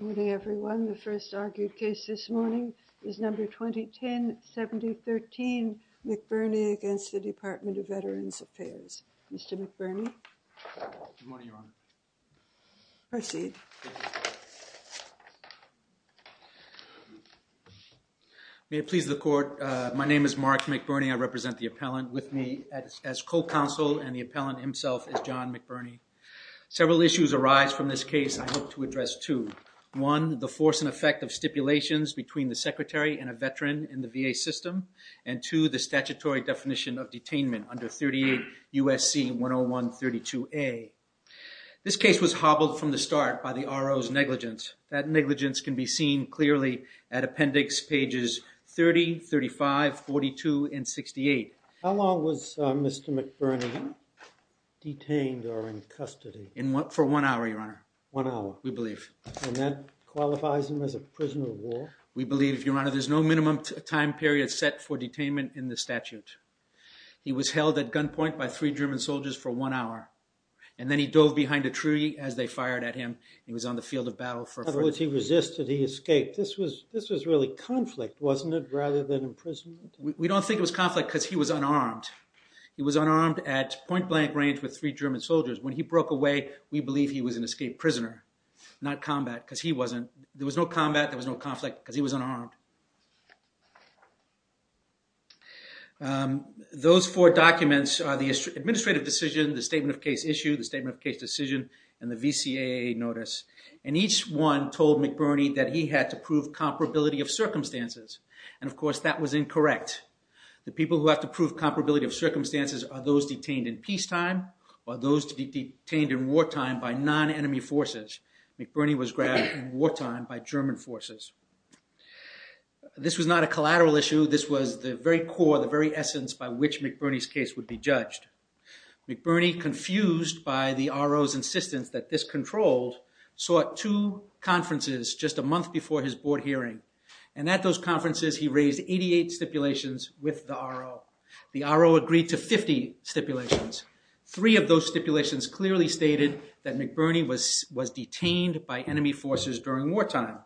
The first argued case this morning is Number 2010-7013, McBurney v. Department of Veterans Affairs. Mr. McBurney? Good morning, Your Honor. Proceed. May it please the Court, my name is Mark McBurney, I represent the appellant with me as co-counsel and the appellant himself is John McBurney. Several issues arise from this case, I hope to address two, one, the force and effect of stipulations between the secretary and a veteran in the VA system, and two, the statutory definition of detainment under 38 U.S.C. 101-32A. This case was hobbled from the start by the RO's negligence. That negligence can be seen clearly at appendix pages 30, 35, 42, and 68. How long was Mr. McBurney detained or in custody? For one hour, Your Honor. One hour? We believe. And that qualifies him as a prisoner of war? We believe, Your Honor. There's no minimum time period set for detainment in the statute. He was held at gunpoint by three German soldiers for one hour, and then he dove behind a tree as they fired at him. He was on the field of battle for a fortnight. In other words, he resisted, he escaped. This was really conflict, wasn't it, rather than imprisonment? We don't think it was conflict because he was unarmed. He was unarmed at point-blank range with three German soldiers. When he broke away, we believe he was an escaped prisoner, not combat, because he wasn't. There was no combat, there was no conflict, because he was unarmed. Those four documents are the administrative decision, the statement of case issue, the statement of case decision, and the VCAA notice. And each one told McBurney that he had to prove comparability of circumstances, and of course, that was incorrect. The people who have to prove comparability of circumstances are those detained in peacetime or those detained in wartime by non-enemy forces. McBurney was grabbed in wartime by German forces. This was not a collateral issue. This was the very core, the very essence by which McBurney's case would be judged. McBurney, confused by the RO's insistence that this controlled, sought two conferences just a month before his board hearing. And at those conferences, he raised 88 stipulations with the RO. The RO agreed to 50 stipulations. Three of those stipulations clearly stated that McBurney was detained by enemy forces during wartime.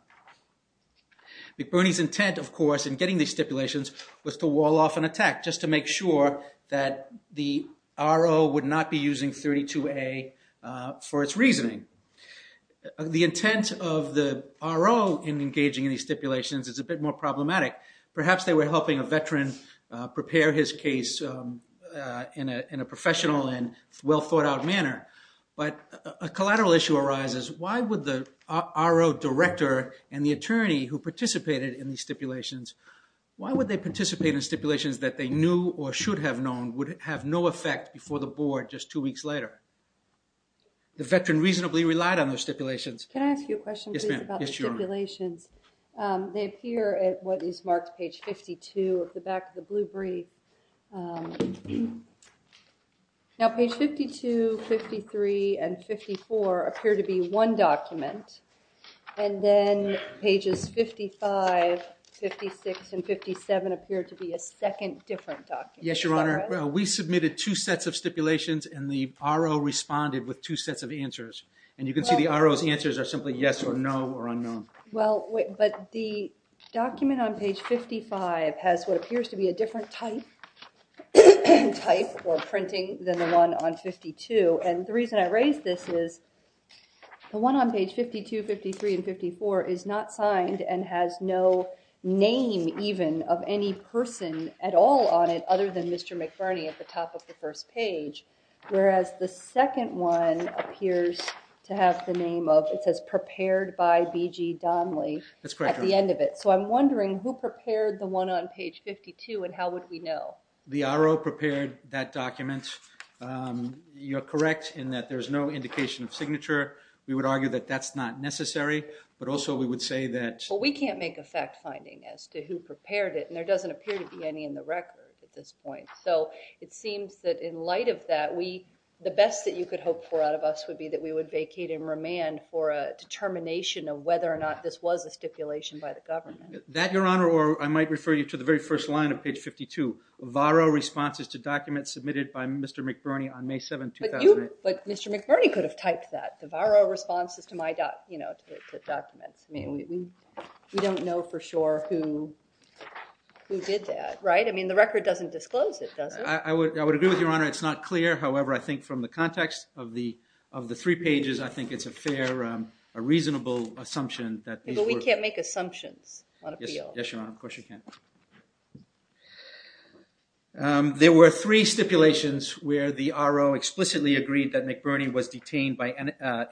McBurney's intent, of course, in getting these stipulations was to wall off an attack, just to make sure that the RO would not be using 32A for its reasoning. The intent of the RO in engaging in these stipulations is a bit more problematic. Perhaps they were helping a veteran prepare his case in a professional and well thought out manner, but a collateral issue arises. Why would the RO director and the attorney who participated in these stipulations, why would they participate in stipulations that they knew or should have known would have no effect before the board just two weeks later? The veteran reasonably relied on those stipulations. Can I ask you a question about the stipulations? They appear at what is marked page 52 at the back of the blue brief. Now page 52, 53, and 54 appear to be one document, and then pages 55, 56, and 57 appear to be Yes, Your Honor. Well, we submitted two sets of stipulations and the RO responded with two sets of answers. And you can see the RO's answers are simply yes or no or unknown. But the document on page 55 has what appears to be a different type or printing than the one on 52. And the reason I raise this is the one on page 52, 53, and 54 is not signed and has no name even of any person at all on it other than Mr. McBurney at the top of the first page. Whereas the second one appears to have the name of, it says prepared by BG Donley. That's correct, Your Honor. At the end of it. So I'm wondering who prepared the one on page 52 and how would we know? The RO prepared that document. You're correct in that there's no indication of signature. We would argue that that's not necessary, but also we would say that Well, we can't make a fact finding as to who prepared it. And there doesn't appear to be any in the record at this point. So it seems that in light of that, the best that you could hope for out of us would be that we would vacate and remand for a determination of whether or not this was a stipulation by the government. That, Your Honor, or I might refer you to the very first line of page 52. VARO responses to documents submitted by Mr. McBurney on May 7, 2008. But Mr. McBurney could have typed that. The VARO responses to documents. I mean, we don't know for sure who did that, right? I mean, the record doesn't disclose it, does it? I would agree with you, Your Honor. It's not clear. However, I think from the context of the three pages, I think it's a fair, a reasonable assumption that these were. But we can't make assumptions on appeal. Yes, Your Honor. Of course you can't. There were three stipulations where the RO explicitly agreed that McBurney was detained by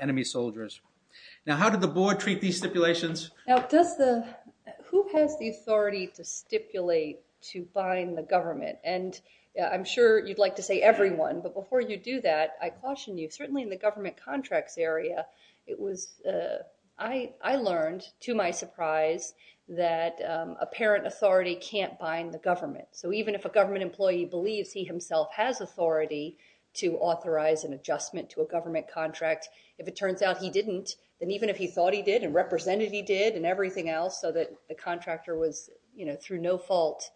enemy soldiers. Now, how did the board treat these stipulations? Now, does the, who has the authority to stipulate to bind the government? And I'm sure you'd like to say everyone. But before you do that, I caution you. Certainly in the government contracts area, it was, I learned to my surprise that apparent authority can't bind the government. So even if a government employee believes he himself has authority to authorize an adjustment to a government contract, if it turns out he didn't, then even if he thought he did and represented he did and everything else so that the contractor was, you know, through no fault,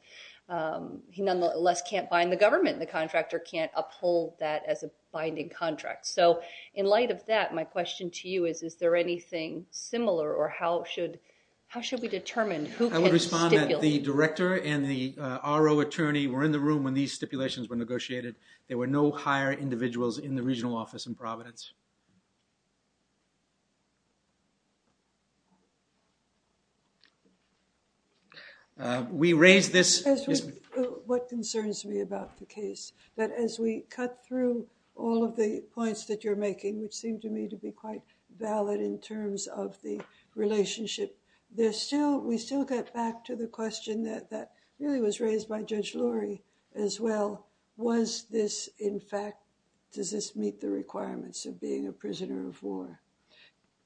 he nonetheless can't bind the government. The contractor can't uphold that as a binding contract. So in light of that, my question to you is, is there anything similar or how should, how should we determine who can stipulate? I would respond that the director and the RO attorney were in the room when these stipulations were negotiated. There were no higher individuals in the regional office in Providence. We raised this. What concerns me about the case, that as we cut through all of the points that you're making, which seemed to me to be quite valid in terms of the relationship, there's still, we still get back to the question that really was raised by Judge Lurie as well. Was this in fact, does this meet the requirements of being a prisoner of war?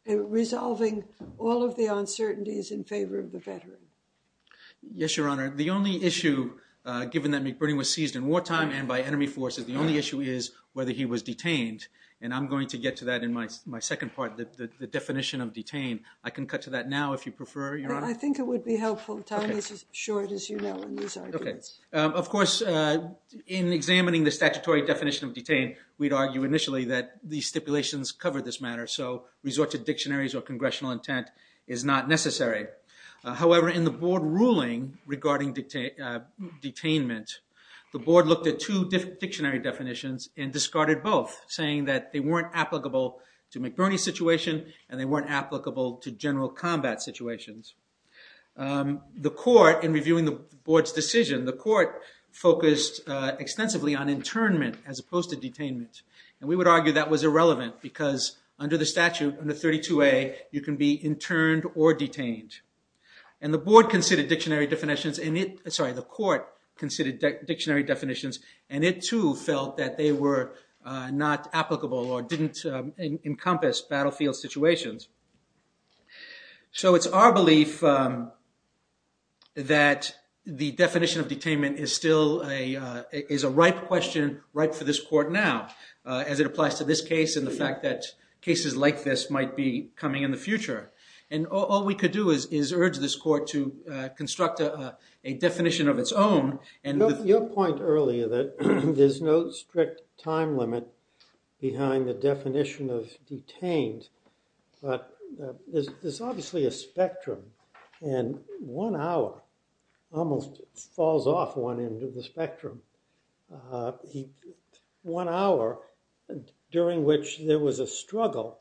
Resolving all of the uncertainties in favor of the veteran. Yes, Your Honor. The only issue given that McBurney was seized in wartime and by enemy forces, the only issue is whether he was detained. And I'm going to get to that in my second part, the definition of detained. I can cut to that now if you prefer, Your Honor. I think it would be helpful. Time is as short as you know in these arguments. Okay. Of course, in examining the statutory definition of detained, we'd argue initially that these stipulations covered this matter. So resort to dictionaries or congressional intent is not necessary. However, in the board ruling regarding detainment, the board looked at two different dictionary definitions and discarded both saying that they weren't applicable to McBurney's situation and they weren't applicable to general combat situations. The court, in reviewing the board's decision, the court focused extensively on internment as opposed to detainment. And we would argue that was irrelevant because under the statute, under 32A, you can be interned or detained. And the board considered dictionary definitions, sorry, the court considered dictionary definitions and it too felt that they were not applicable or didn't encompass battlefield situations. So it's our belief that the definition of detainment is still a ripe question, ripe for this court now as it applies to this case and the fact that cases like this might be coming in the future. And all we could do is urge this court to construct a definition of its own. Your point earlier that there's no strict time limit behind the definition of detained, but there's obviously a spectrum and one hour almost falls off one end of the spectrum. One hour during which there was a struggle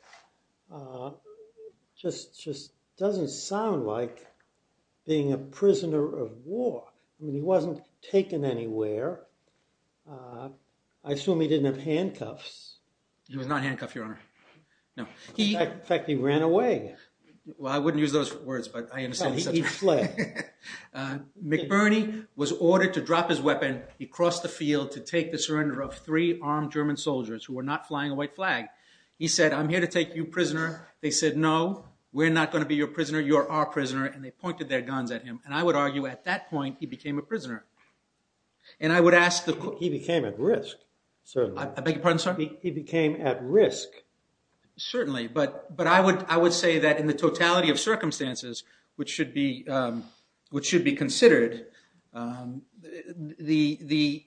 just doesn't sound like being a prisoner of war. I mean, he wasn't taken anywhere. I assume he didn't have handcuffs. He was not handcuffed, Your Honor. No. In fact, he ran away. Well, I wouldn't use those words, but I understand. He fled. McBurney was ordered to drop his weapon. He crossed the field to take the surrender of three armed German soldiers who were not flying a white flag. He said, I'm here to take you prisoner. They said, no, we're not going to be your prisoner. You're our prisoner. And they pointed their guns at him. And I would argue at that point, he became a prisoner. And I would ask the court- He became at risk, certainly. I beg your pardon, sir? He became at risk. Certainly. But I would say that in the totality of circumstances which should be considered, the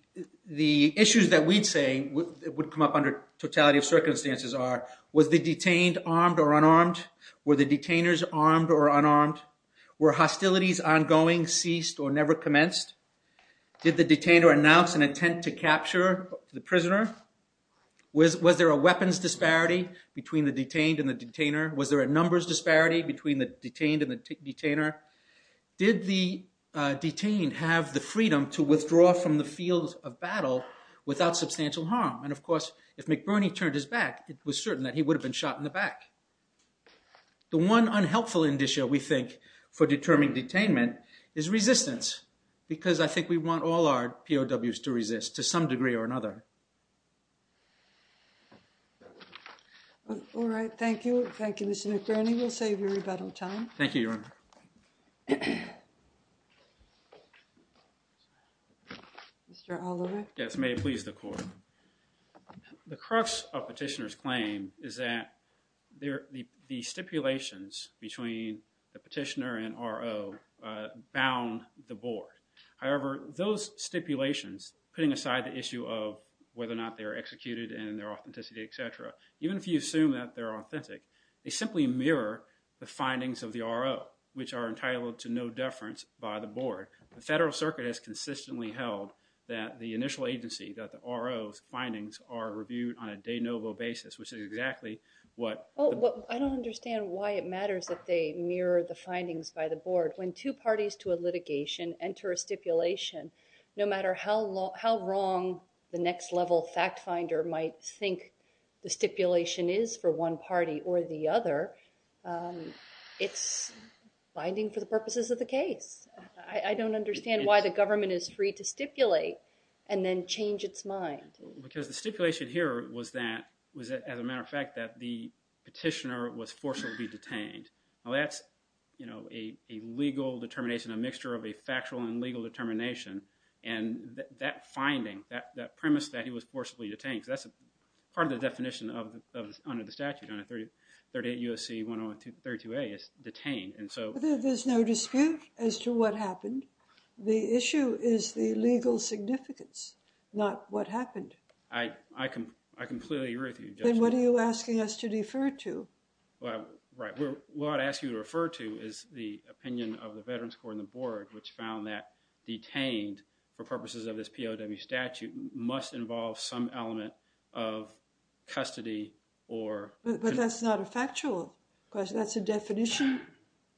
issues that we'd say would come up under totality of circumstances are, was the detained armed or unarmed? Were the detainers armed or unarmed? Were hostilities ongoing, ceased, or never commenced? Did the detainer announce an attempt to capture the prisoner? Was there a weapons disparity between the detained and the detainer? Was there a numbers disparity between the detained and the detainer? Did the detained have the freedom to withdraw from the field of battle without substantial harm? And of course, if McBurney turned his back, it was certain that he would have been shot in the back. The one unhelpful indicia we think for determining detainment is resistance. Because I think we want all our POWs to resist to some degree or another. All right, thank you. Thank you, Mr. McBurney. We'll save you rebuttal time. Thank you, Your Honor. Mr. Oliver? Yes, may it please the court. The crux of petitioner's claim is that the stipulations between the petitioner and RO bound the board. However, those stipulations, putting aside the issue of whether or not they are executed and their authenticity, etc., even if you assume that they're authentic, they simply mirror the findings of the RO, which are entitled to no deference by the board. The Federal Circuit has consistently held that the initial agency, that the RO's findings are reviewed on a de novo basis, which is exactly what— I don't understand why it matters that they mirror the findings by the board. When two parties to a litigation enter a stipulation, no matter how wrong the next level fact finder might think the stipulation is for one party or the other, it's binding for the purposes of the case. I don't understand why the government is free to stipulate and then change its mind. Because the stipulation here was that, as a matter of fact, that the petitioner was forcibly detained. Now that's a legal determination, a mixture of a factual and legal determination, and that finding, that premise that he was forcibly detained, that's part of the definition under the statute, under 38 U.S.C. 1032A is detained. There's no dispute as to what happened. The issue is the legal significance, not what happened. I completely agree with you. Then what are you asking us to refer to? What I'd ask you to refer to is the opinion of the Veterans Court and the board, which found that detained, for purposes of this POW statute, must involve some element of custody or— But that's not a factual question. That's a definition,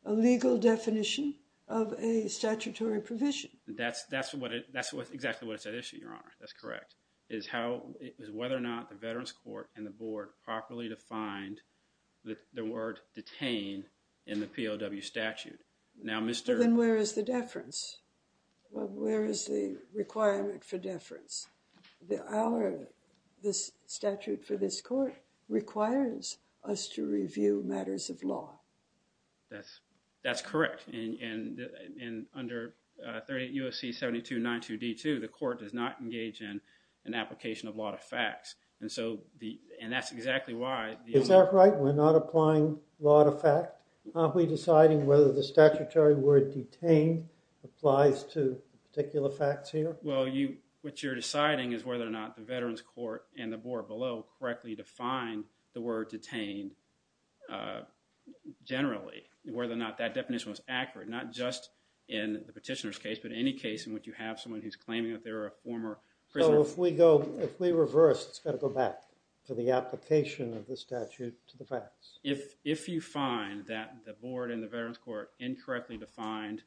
a legal definition of a statutory provision. That's exactly what's at issue, Your Honor. That's correct. It's whether or not the Veterans Court and the board properly defined the word detained in the POW statute. Where is the requirement for deference? The statute for this court requires us to review matters of law. That's correct. And under 38 U.S.C. 7292D2, the court does not engage in an application of law to facts. And that's exactly why— Is that right? We're not applying law to fact? Are we deciding whether the statutory word detained applies to particular facts here? Well, what you're deciding is whether or not the Veterans Court and the board below correctly defined the word detained generally, whether or not that definition was accurate, not just in the petitioner's case, but any case in which you have someone who's claiming that they're a former prisoner. So if we reverse, it's got to go back to the application of the statute to the facts? If you find that the board and the Veterans Court incorrectly defined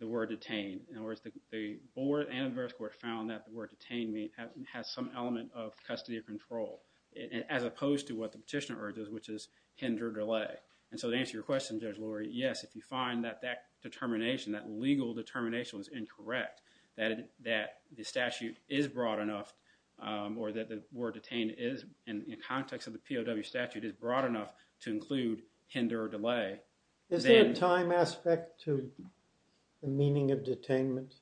the word detained, in other words, the board and the Veterans Court found that the word detained has some element of custody of control, as opposed to what the petitioner urges, which is hinder or delay. And so to answer your question, Judge Lurie, yes, if you find that that determination, that legal determination was incorrect, that the statute is broad enough or that the word detained is, in the context of the POW statute, is broad enough to include hinder or delay— Is there a time aspect to the meaning of detainment?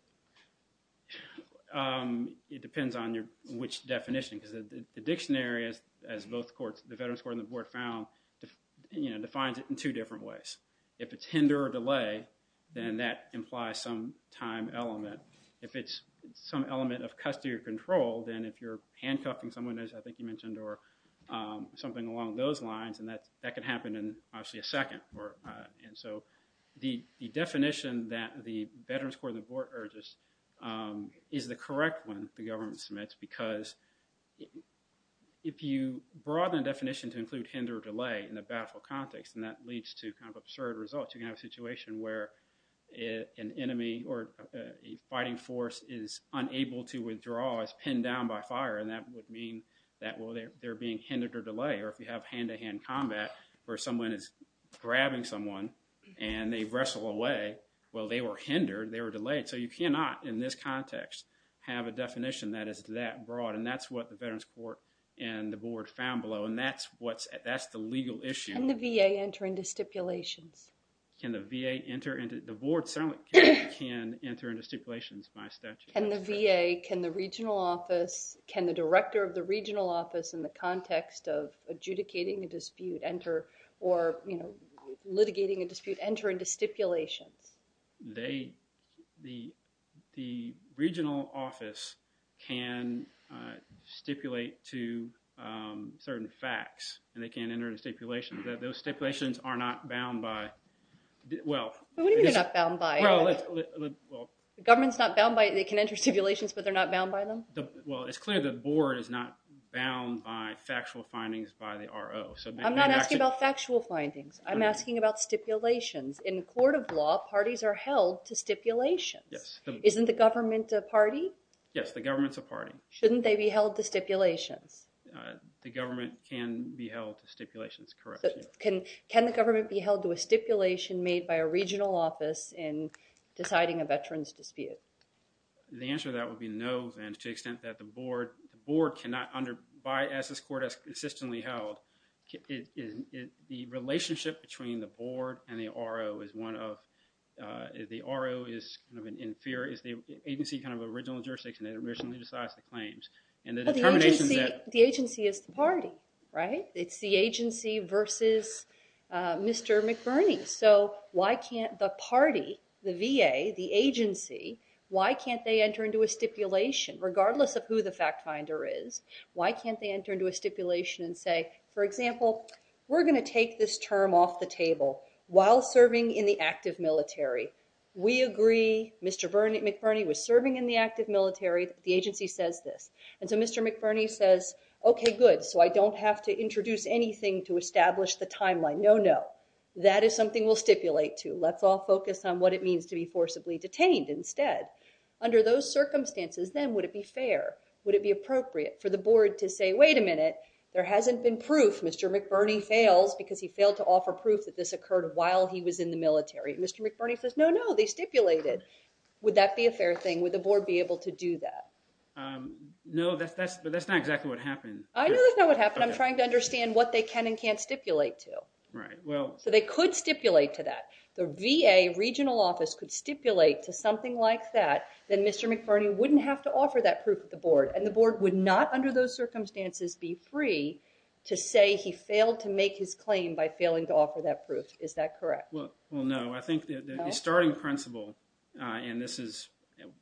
It depends on which definition, because the dictionary, as both courts, the Veterans Court and the board found, defines it in two different ways. If it's hinder or delay, then that implies some time element. If it's some element of custody of control, then if you're handcuffing someone, as I think you mentioned, or something along those lines, then that could happen in, obviously, a second. And so the definition that the Veterans Court and the board urges is the correct one the government submits, because if you broaden the definition to include hinder or delay in a baffled context, then that leads to kind of absurd results. You can have a situation where an enemy or a fighting force is unable to withdraw, is pinned down by fire, and that would mean that they're being hindered or delayed, or if you have hand-to-hand combat where someone is grabbing someone and they wrestle away, well, they were hindered, they were delayed. So you cannot, in this context, have a definition that is that broad, and that's what the Veterans Court and the board found below, and that's the legal issue. Can the VA enter into stipulations? Can the VA enter into—the board certainly can enter into stipulations by statute. Can the VA, can the regional office, can the director of the regional office in the context of adjudicating a dispute enter or, you know, litigating a dispute enter into stipulations? They—the regional office can stipulate to certain facts, and they can enter into stipulations. Those stipulations are not bound by—well— What do you mean they're not bound by? Well— The government's not bound by—they can enter into stipulations, but they're not bound by them? Well, it's clear the board is not bound by factual findings by the RO. I'm not asking about factual findings. I'm asking about stipulations. In court of law, parties are held to stipulations. Yes. Isn't the government a party? Yes, the government's a party. Shouldn't they be held to stipulations? The government can be held to stipulations, correct. Can the government be held to a stipulation made by a regional office in deciding a veterans dispute? The answer to that would be no, then, to the extent that the board cannot under—as this court has consistently held, the relationship between the board and the RO is one of— the RO is kind of an inferior—is the agency kind of original jurisdiction that originally decides the claims. And the determination that— Well, the agency is the party, right? It's the agency versus Mr. McBurney. So why can't the party, the VA, the agency, why can't they enter into a stipulation, regardless of who the fact finder is, why can't they enter into a stipulation and say, for example, we're going to take this term off the table while serving in the active military. We agree. Mr. McBurney was serving in the active military. The agency says this. And so Mr. McBurney says, okay, good, so I don't have to introduce anything to establish the timeline. No, no. That is something we'll stipulate to. Let's all focus on what it means to be forcibly detained instead. Under those circumstances, then, would it be fair? Would it be appropriate for the board to say, wait a minute, there hasn't been proof Mr. McBurney fails because he failed to offer proof that this occurred while he was in the military. And Mr. McBurney says, no, no, they stipulated. Would that be a fair thing? Would the board be able to do that? No, but that's not exactly what happened. I know that's not what happened. I'm trying to understand what they can and can't stipulate to. So they could stipulate to that. The VA regional office could stipulate to something like that, then Mr. McBurney wouldn't have to offer that proof to the board. And the board would not, under those circumstances, be free to say he failed to make his claim by failing to offer that proof. Is that correct? Well, no. I think the starting principle, and this is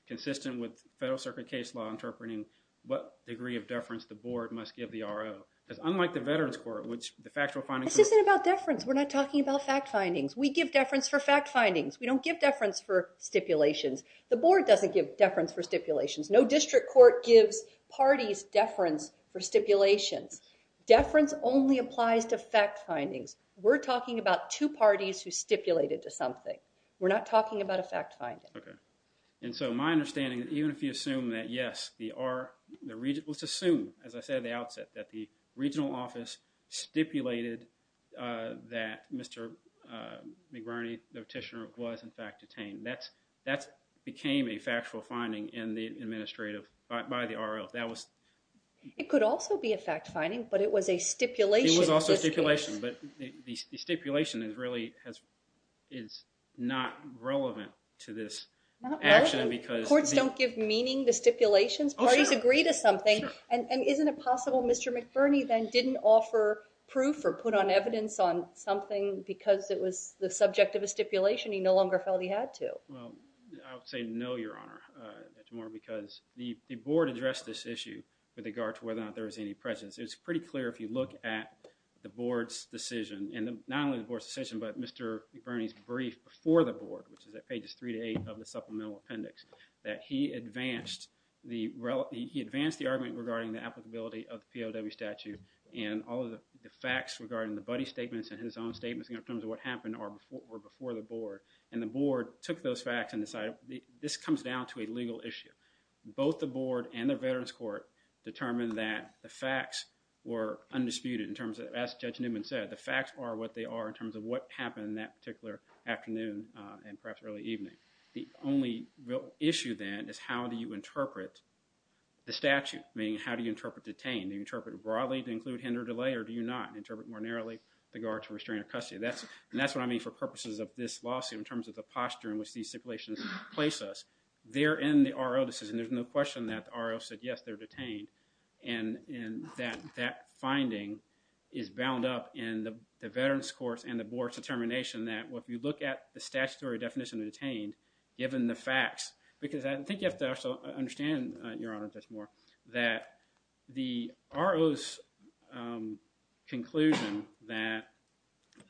consistent with federal circuit case law interpreting what degree of deference the board must give the RO. Because unlike the veterans court, which the factual findings... This isn't about deference. We're not talking about fact findings. We give deference for fact findings. We don't give deference for stipulations. The board doesn't give deference for stipulations. No district court gives parties deference for stipulations. Deference only applies to fact findings. We're talking about two parties who stipulated to something. We're not talking about a fact finding. Okay. And so my understanding, even if you assume that, yes, the RO, let's assume, as I said at the outset, that the regional office stipulated that Mr. McBurney, the petitioner, was in fact detained, that became a factual finding in the administrative by the RO. That was... It could also be a fact finding, but it was a stipulation. It was also a stipulation, but the stipulation is not relevant to this action because... Courts don't give meaning to stipulations. Parties agree to something. Sure. And isn't it possible Mr. McBurney then didn't offer proof or put on evidence on something because it was the subject of a stipulation he no longer felt he had to? Well, I would say no, Your Honor. That's more because the board addressed this issue with regard to whether or not there was any presence. It's pretty clear if you look at the board's decision, and not only the board's decision, but Mr. McBurney's brief before the board, which is at pages three to eight of the supplemental appendix, that he advanced the argument regarding the applicability of the POW statute and all of the facts regarding the buddy statements and his own statements in terms of what happened were before the board. And the board took those facts and decided this comes down to a legal issue. Both the board and the Veterans Court determined that the facts were undisputed in terms of, as Judge Newman said, the facts are what they are in terms of what happened that particular afternoon and perhaps early evening. The only real issue then is how do you interpret the statute, meaning how do you interpret detained? Do you interpret it broadly to include him or delay, or do you not interpret it more narrowly with regard to restraining custody? And that's what I mean for purposes of this lawsuit in terms of the posture in which these stipulations place us. They're in the R.O. decision. There's no question that the R.O. said, yes, they're detained. And that finding is bound up in the Veterans Court's and the board's determination that if you look at the statutory definition of detained, given the facts, because I think you have to understand, Your Honor, that the R.O.'s conclusion that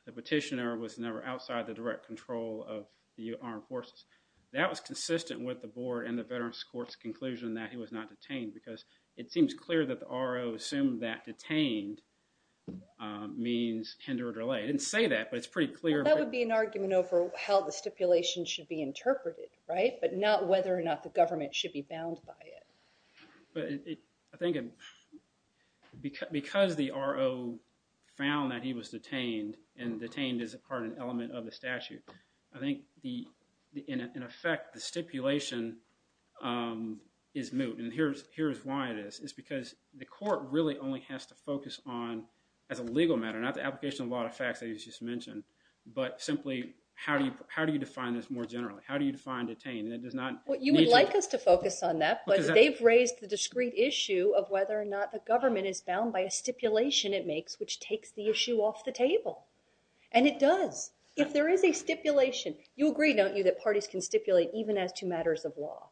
the petitioner was never outside the direct control of the armed forces, that was consistent with the board and the Veterans Court's conclusion that he was not detained because it seems clear that the R.O. assumed that detained means tender or delay. It didn't say that, but it's pretty clear. That would be an argument over how the stipulation should be interpreted, right, but not whether or not the government should be bound by it. But I think because the R.O. found that he was detained and detained is, in part, an element of the statute, I think, in effect, the stipulation is moot. And here's why it is. It's because the court really only has to focus on, as a legal matter, not the application of law to facts that you just mentioned, but simply how do you define this more generally? How do you define detained? And it does not need to... Well, you would like us to focus on that, but they've raised the discrete issue of whether or not the government is bound by a stipulation it makes, which takes the issue off the table. And it does. If there is a stipulation, you agree, don't you, that parties can stipulate even as to matters of law?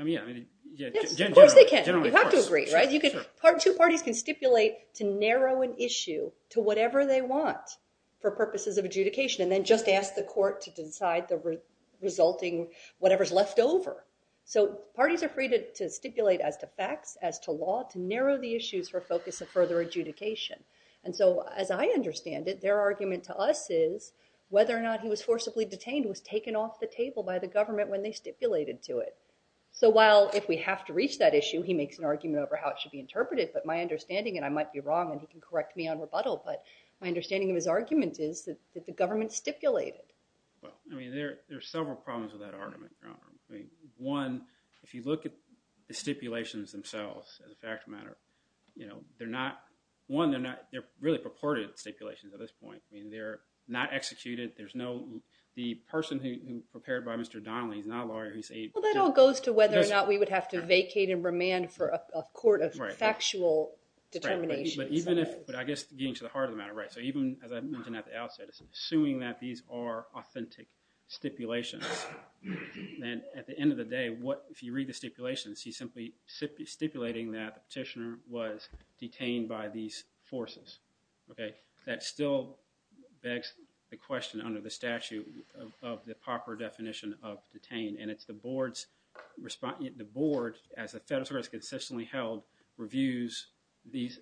I mean, yeah. Yes, of course they can. Generally, of course. You have to agree, right? Two parties can stipulate to narrow an issue to whatever they want for purposes of adjudication and then just ask the court to decide the resulting whatever's left over. So parties are free to stipulate as to facts, as to law, to narrow the issues for focus of further adjudication. And so, as I understand it, their argument to us is whether or not he was forcibly detained was taken off the table by the government when they stipulated to it. So while if we have to reach that issue, he makes an argument over how it should be interpreted, but my understanding, and I might be wrong and he can correct me on rebuttal, but my understanding of his argument is that the government stipulated. Well, I mean, there are several problems with that argument, Your Honor. I mean, one, if you look at the stipulations themselves as a fact of matter, you know, they're not, one, they're not, they're really purported stipulations at this point. I mean, they're not executed. There's no, the person who prepared by Mr. Donnelly is not a lawyer. Well, that all goes to whether or not we would have to vacate and remand for a court of factual determination. Right, but even if, but I guess getting to the heart of the matter, right, so even, as I mentioned at the outset, assuming that these are authentic stipulations, then at the end of the day, what, if you read the stipulations, he's simply stipulating that the petitioner was detained by these forces, okay? That still begs the question under the statute of the proper definition of detained, and it's the board's response, the board, as a federal service consistently held, reviews these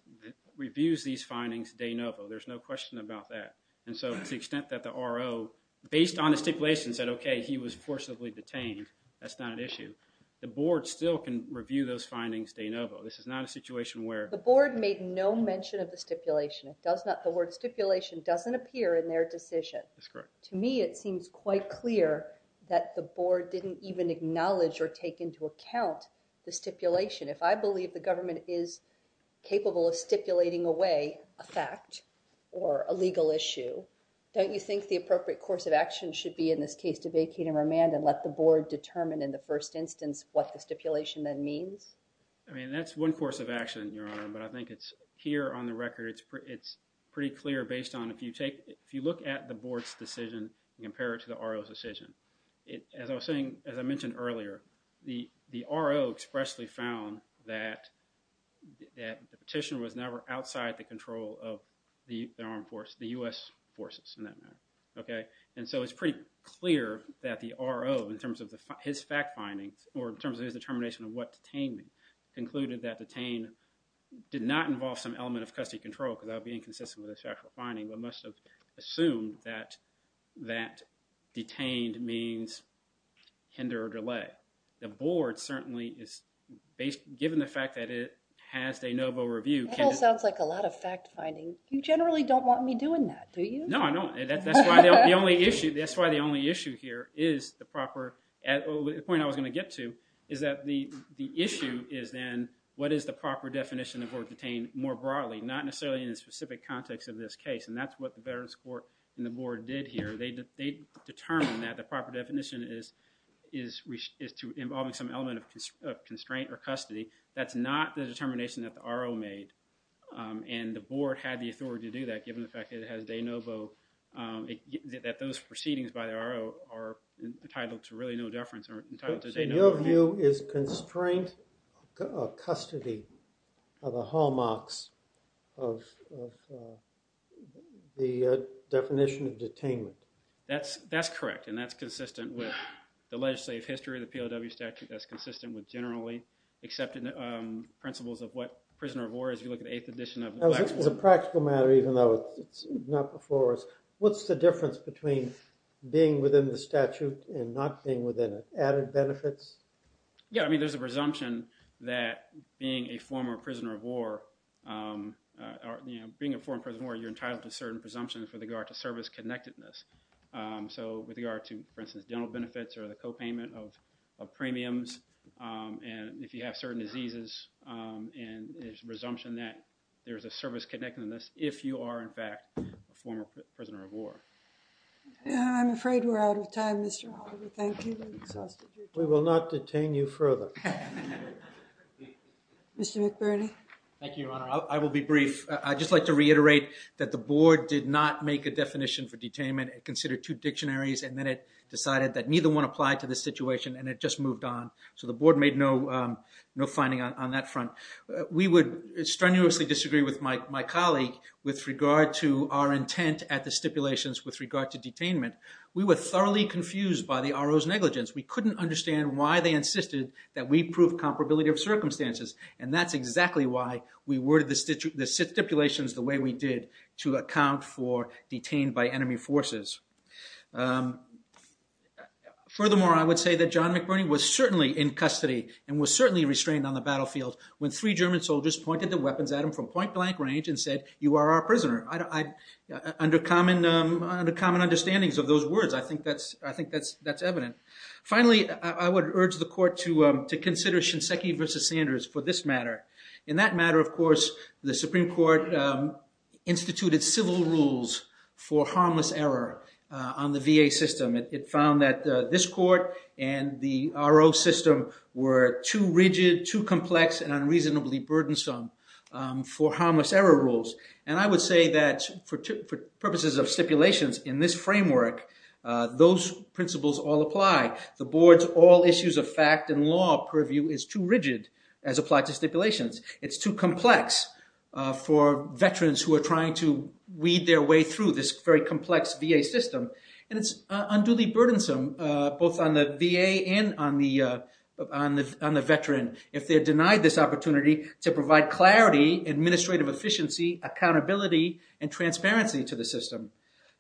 findings de novo. There's no question about that, and so to the extent that the RO, based on the stipulations that, okay, he was forcibly detained, that's not an issue. The board still can review those findings de novo. This is not a situation where- The board made no mention of the stipulation. It does not, the word stipulation doesn't appear in their decision. That's correct. To me, it seems quite clear that the board didn't even acknowledge or take into account the stipulation. If I believe the government is capable of stipulating away a fact or a legal issue, don't you think the appropriate course of action should be in this case to vacate and remand and let the board determine in the first instance what the stipulation then means? I mean, that's one course of action, Your Honor, but I think it's, here on the record, it's pretty clear based on, if you look at the board's decision and compare it to the RO's decision, as I was saying, as I mentioned earlier, the RO expressly found that the petition was never outside the control of the armed force, the U.S. forces in that matter, okay? And so it's pretty clear that the RO, in terms of his fact finding or in terms of his determination of what detained him, concluded that detained did not involve some element of custody control because that would be inconsistent with his factual finding but must have assumed that detained means tender or delay. The board certainly is, given the fact that it has a noble review, That all sounds like a lot of fact finding. You generally don't want me doing that, do you? No, I don't. That's why the only issue here is the proper, the point I was going to get to, is that the issue is then what is the proper definition of what detained more broadly, not necessarily in the specific context of this case and that's what the veterans court and the board did here. They determined that the proper definition is involving some element of constraint or custody. That's not the determination that the RO made and the board had the authority to do that given the fact that it has de novo, that those proceedings by the RO are entitled to really no deference or entitled to de novo. So your view is constraint of custody are the hallmarks of the definition of detainment. That's correct and that's consistent with the legislative history of the POW statute. That's consistent with generally accepted principles of what prisoner of war is. If you look at the 8th edition of the black book. As a practical matter, even though it's not before us, what's the difference between being within the statute and not being within it? Added benefits? Yeah, I mean there's a presumption that being a former prisoner of war, being a former prisoner of war, you're entitled to certain presumptions with regard to service connectedness. So with regard to, for instance, dental benefits or the co-payment of premiums and if you have certain diseases and there's a presumption that there's a service connectedness if you are in fact a former prisoner of war. I'm afraid we're out of time, Mr. Oliver. Thank you. We will not detain you further. Mr. McBurney. Thank you, Your Honor. I will be brief. I'd just like to reiterate that the board did not make a definition for detainment. It considered two dictionaries and then it decided that neither one applied to the situation and it just moved on. So the board made no finding on that front. We would strenuously disagree with my colleague with regard to our intent at the stipulations with regard to detainment. We were thoroughly confused by the RO's negligence. We couldn't understand why they insisted that we prove comparability of circumstances and that's exactly why we worded the stipulations the way we did to account for detained by enemy forces. Furthermore, I would say that John McBurney was certainly in custody and was certainly restrained on the battlefield when three German soldiers pointed their weapons at him from point-blank range and said, you are our prisoner. Under common understandings of those words, I think that's evident. Finally, I would urge the court to consider Shinseki versus Sanders for this matter. In that matter, of course, the Supreme Court instituted civil rules for harmless error on the VA system. It found that this court and the RO system were too rigid, too complex, and unreasonably burdensome for harmless error rules and I would say that for purposes of stipulations in this framework, those principles all apply. The board's all issues of fact and law purview is too rigid as applied to stipulations. It's too complex for veterans who are trying to weed their way through this very complex VA system and it's unduly burdensome both on the VA and on the veteran if they're denied this opportunity to provide clarity, administrative efficiency, accountability, and transparency to the system.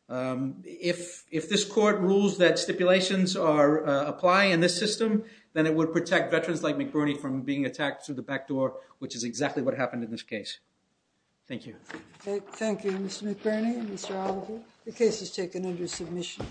If this court rules that stipulations apply in this system, then it would protect veterans like McBurney from being attacked through the back door, which is exactly what happened in this case. Thank you. Thank you, Mr. McBurney and Mr. Oliver. The case is taken under submission.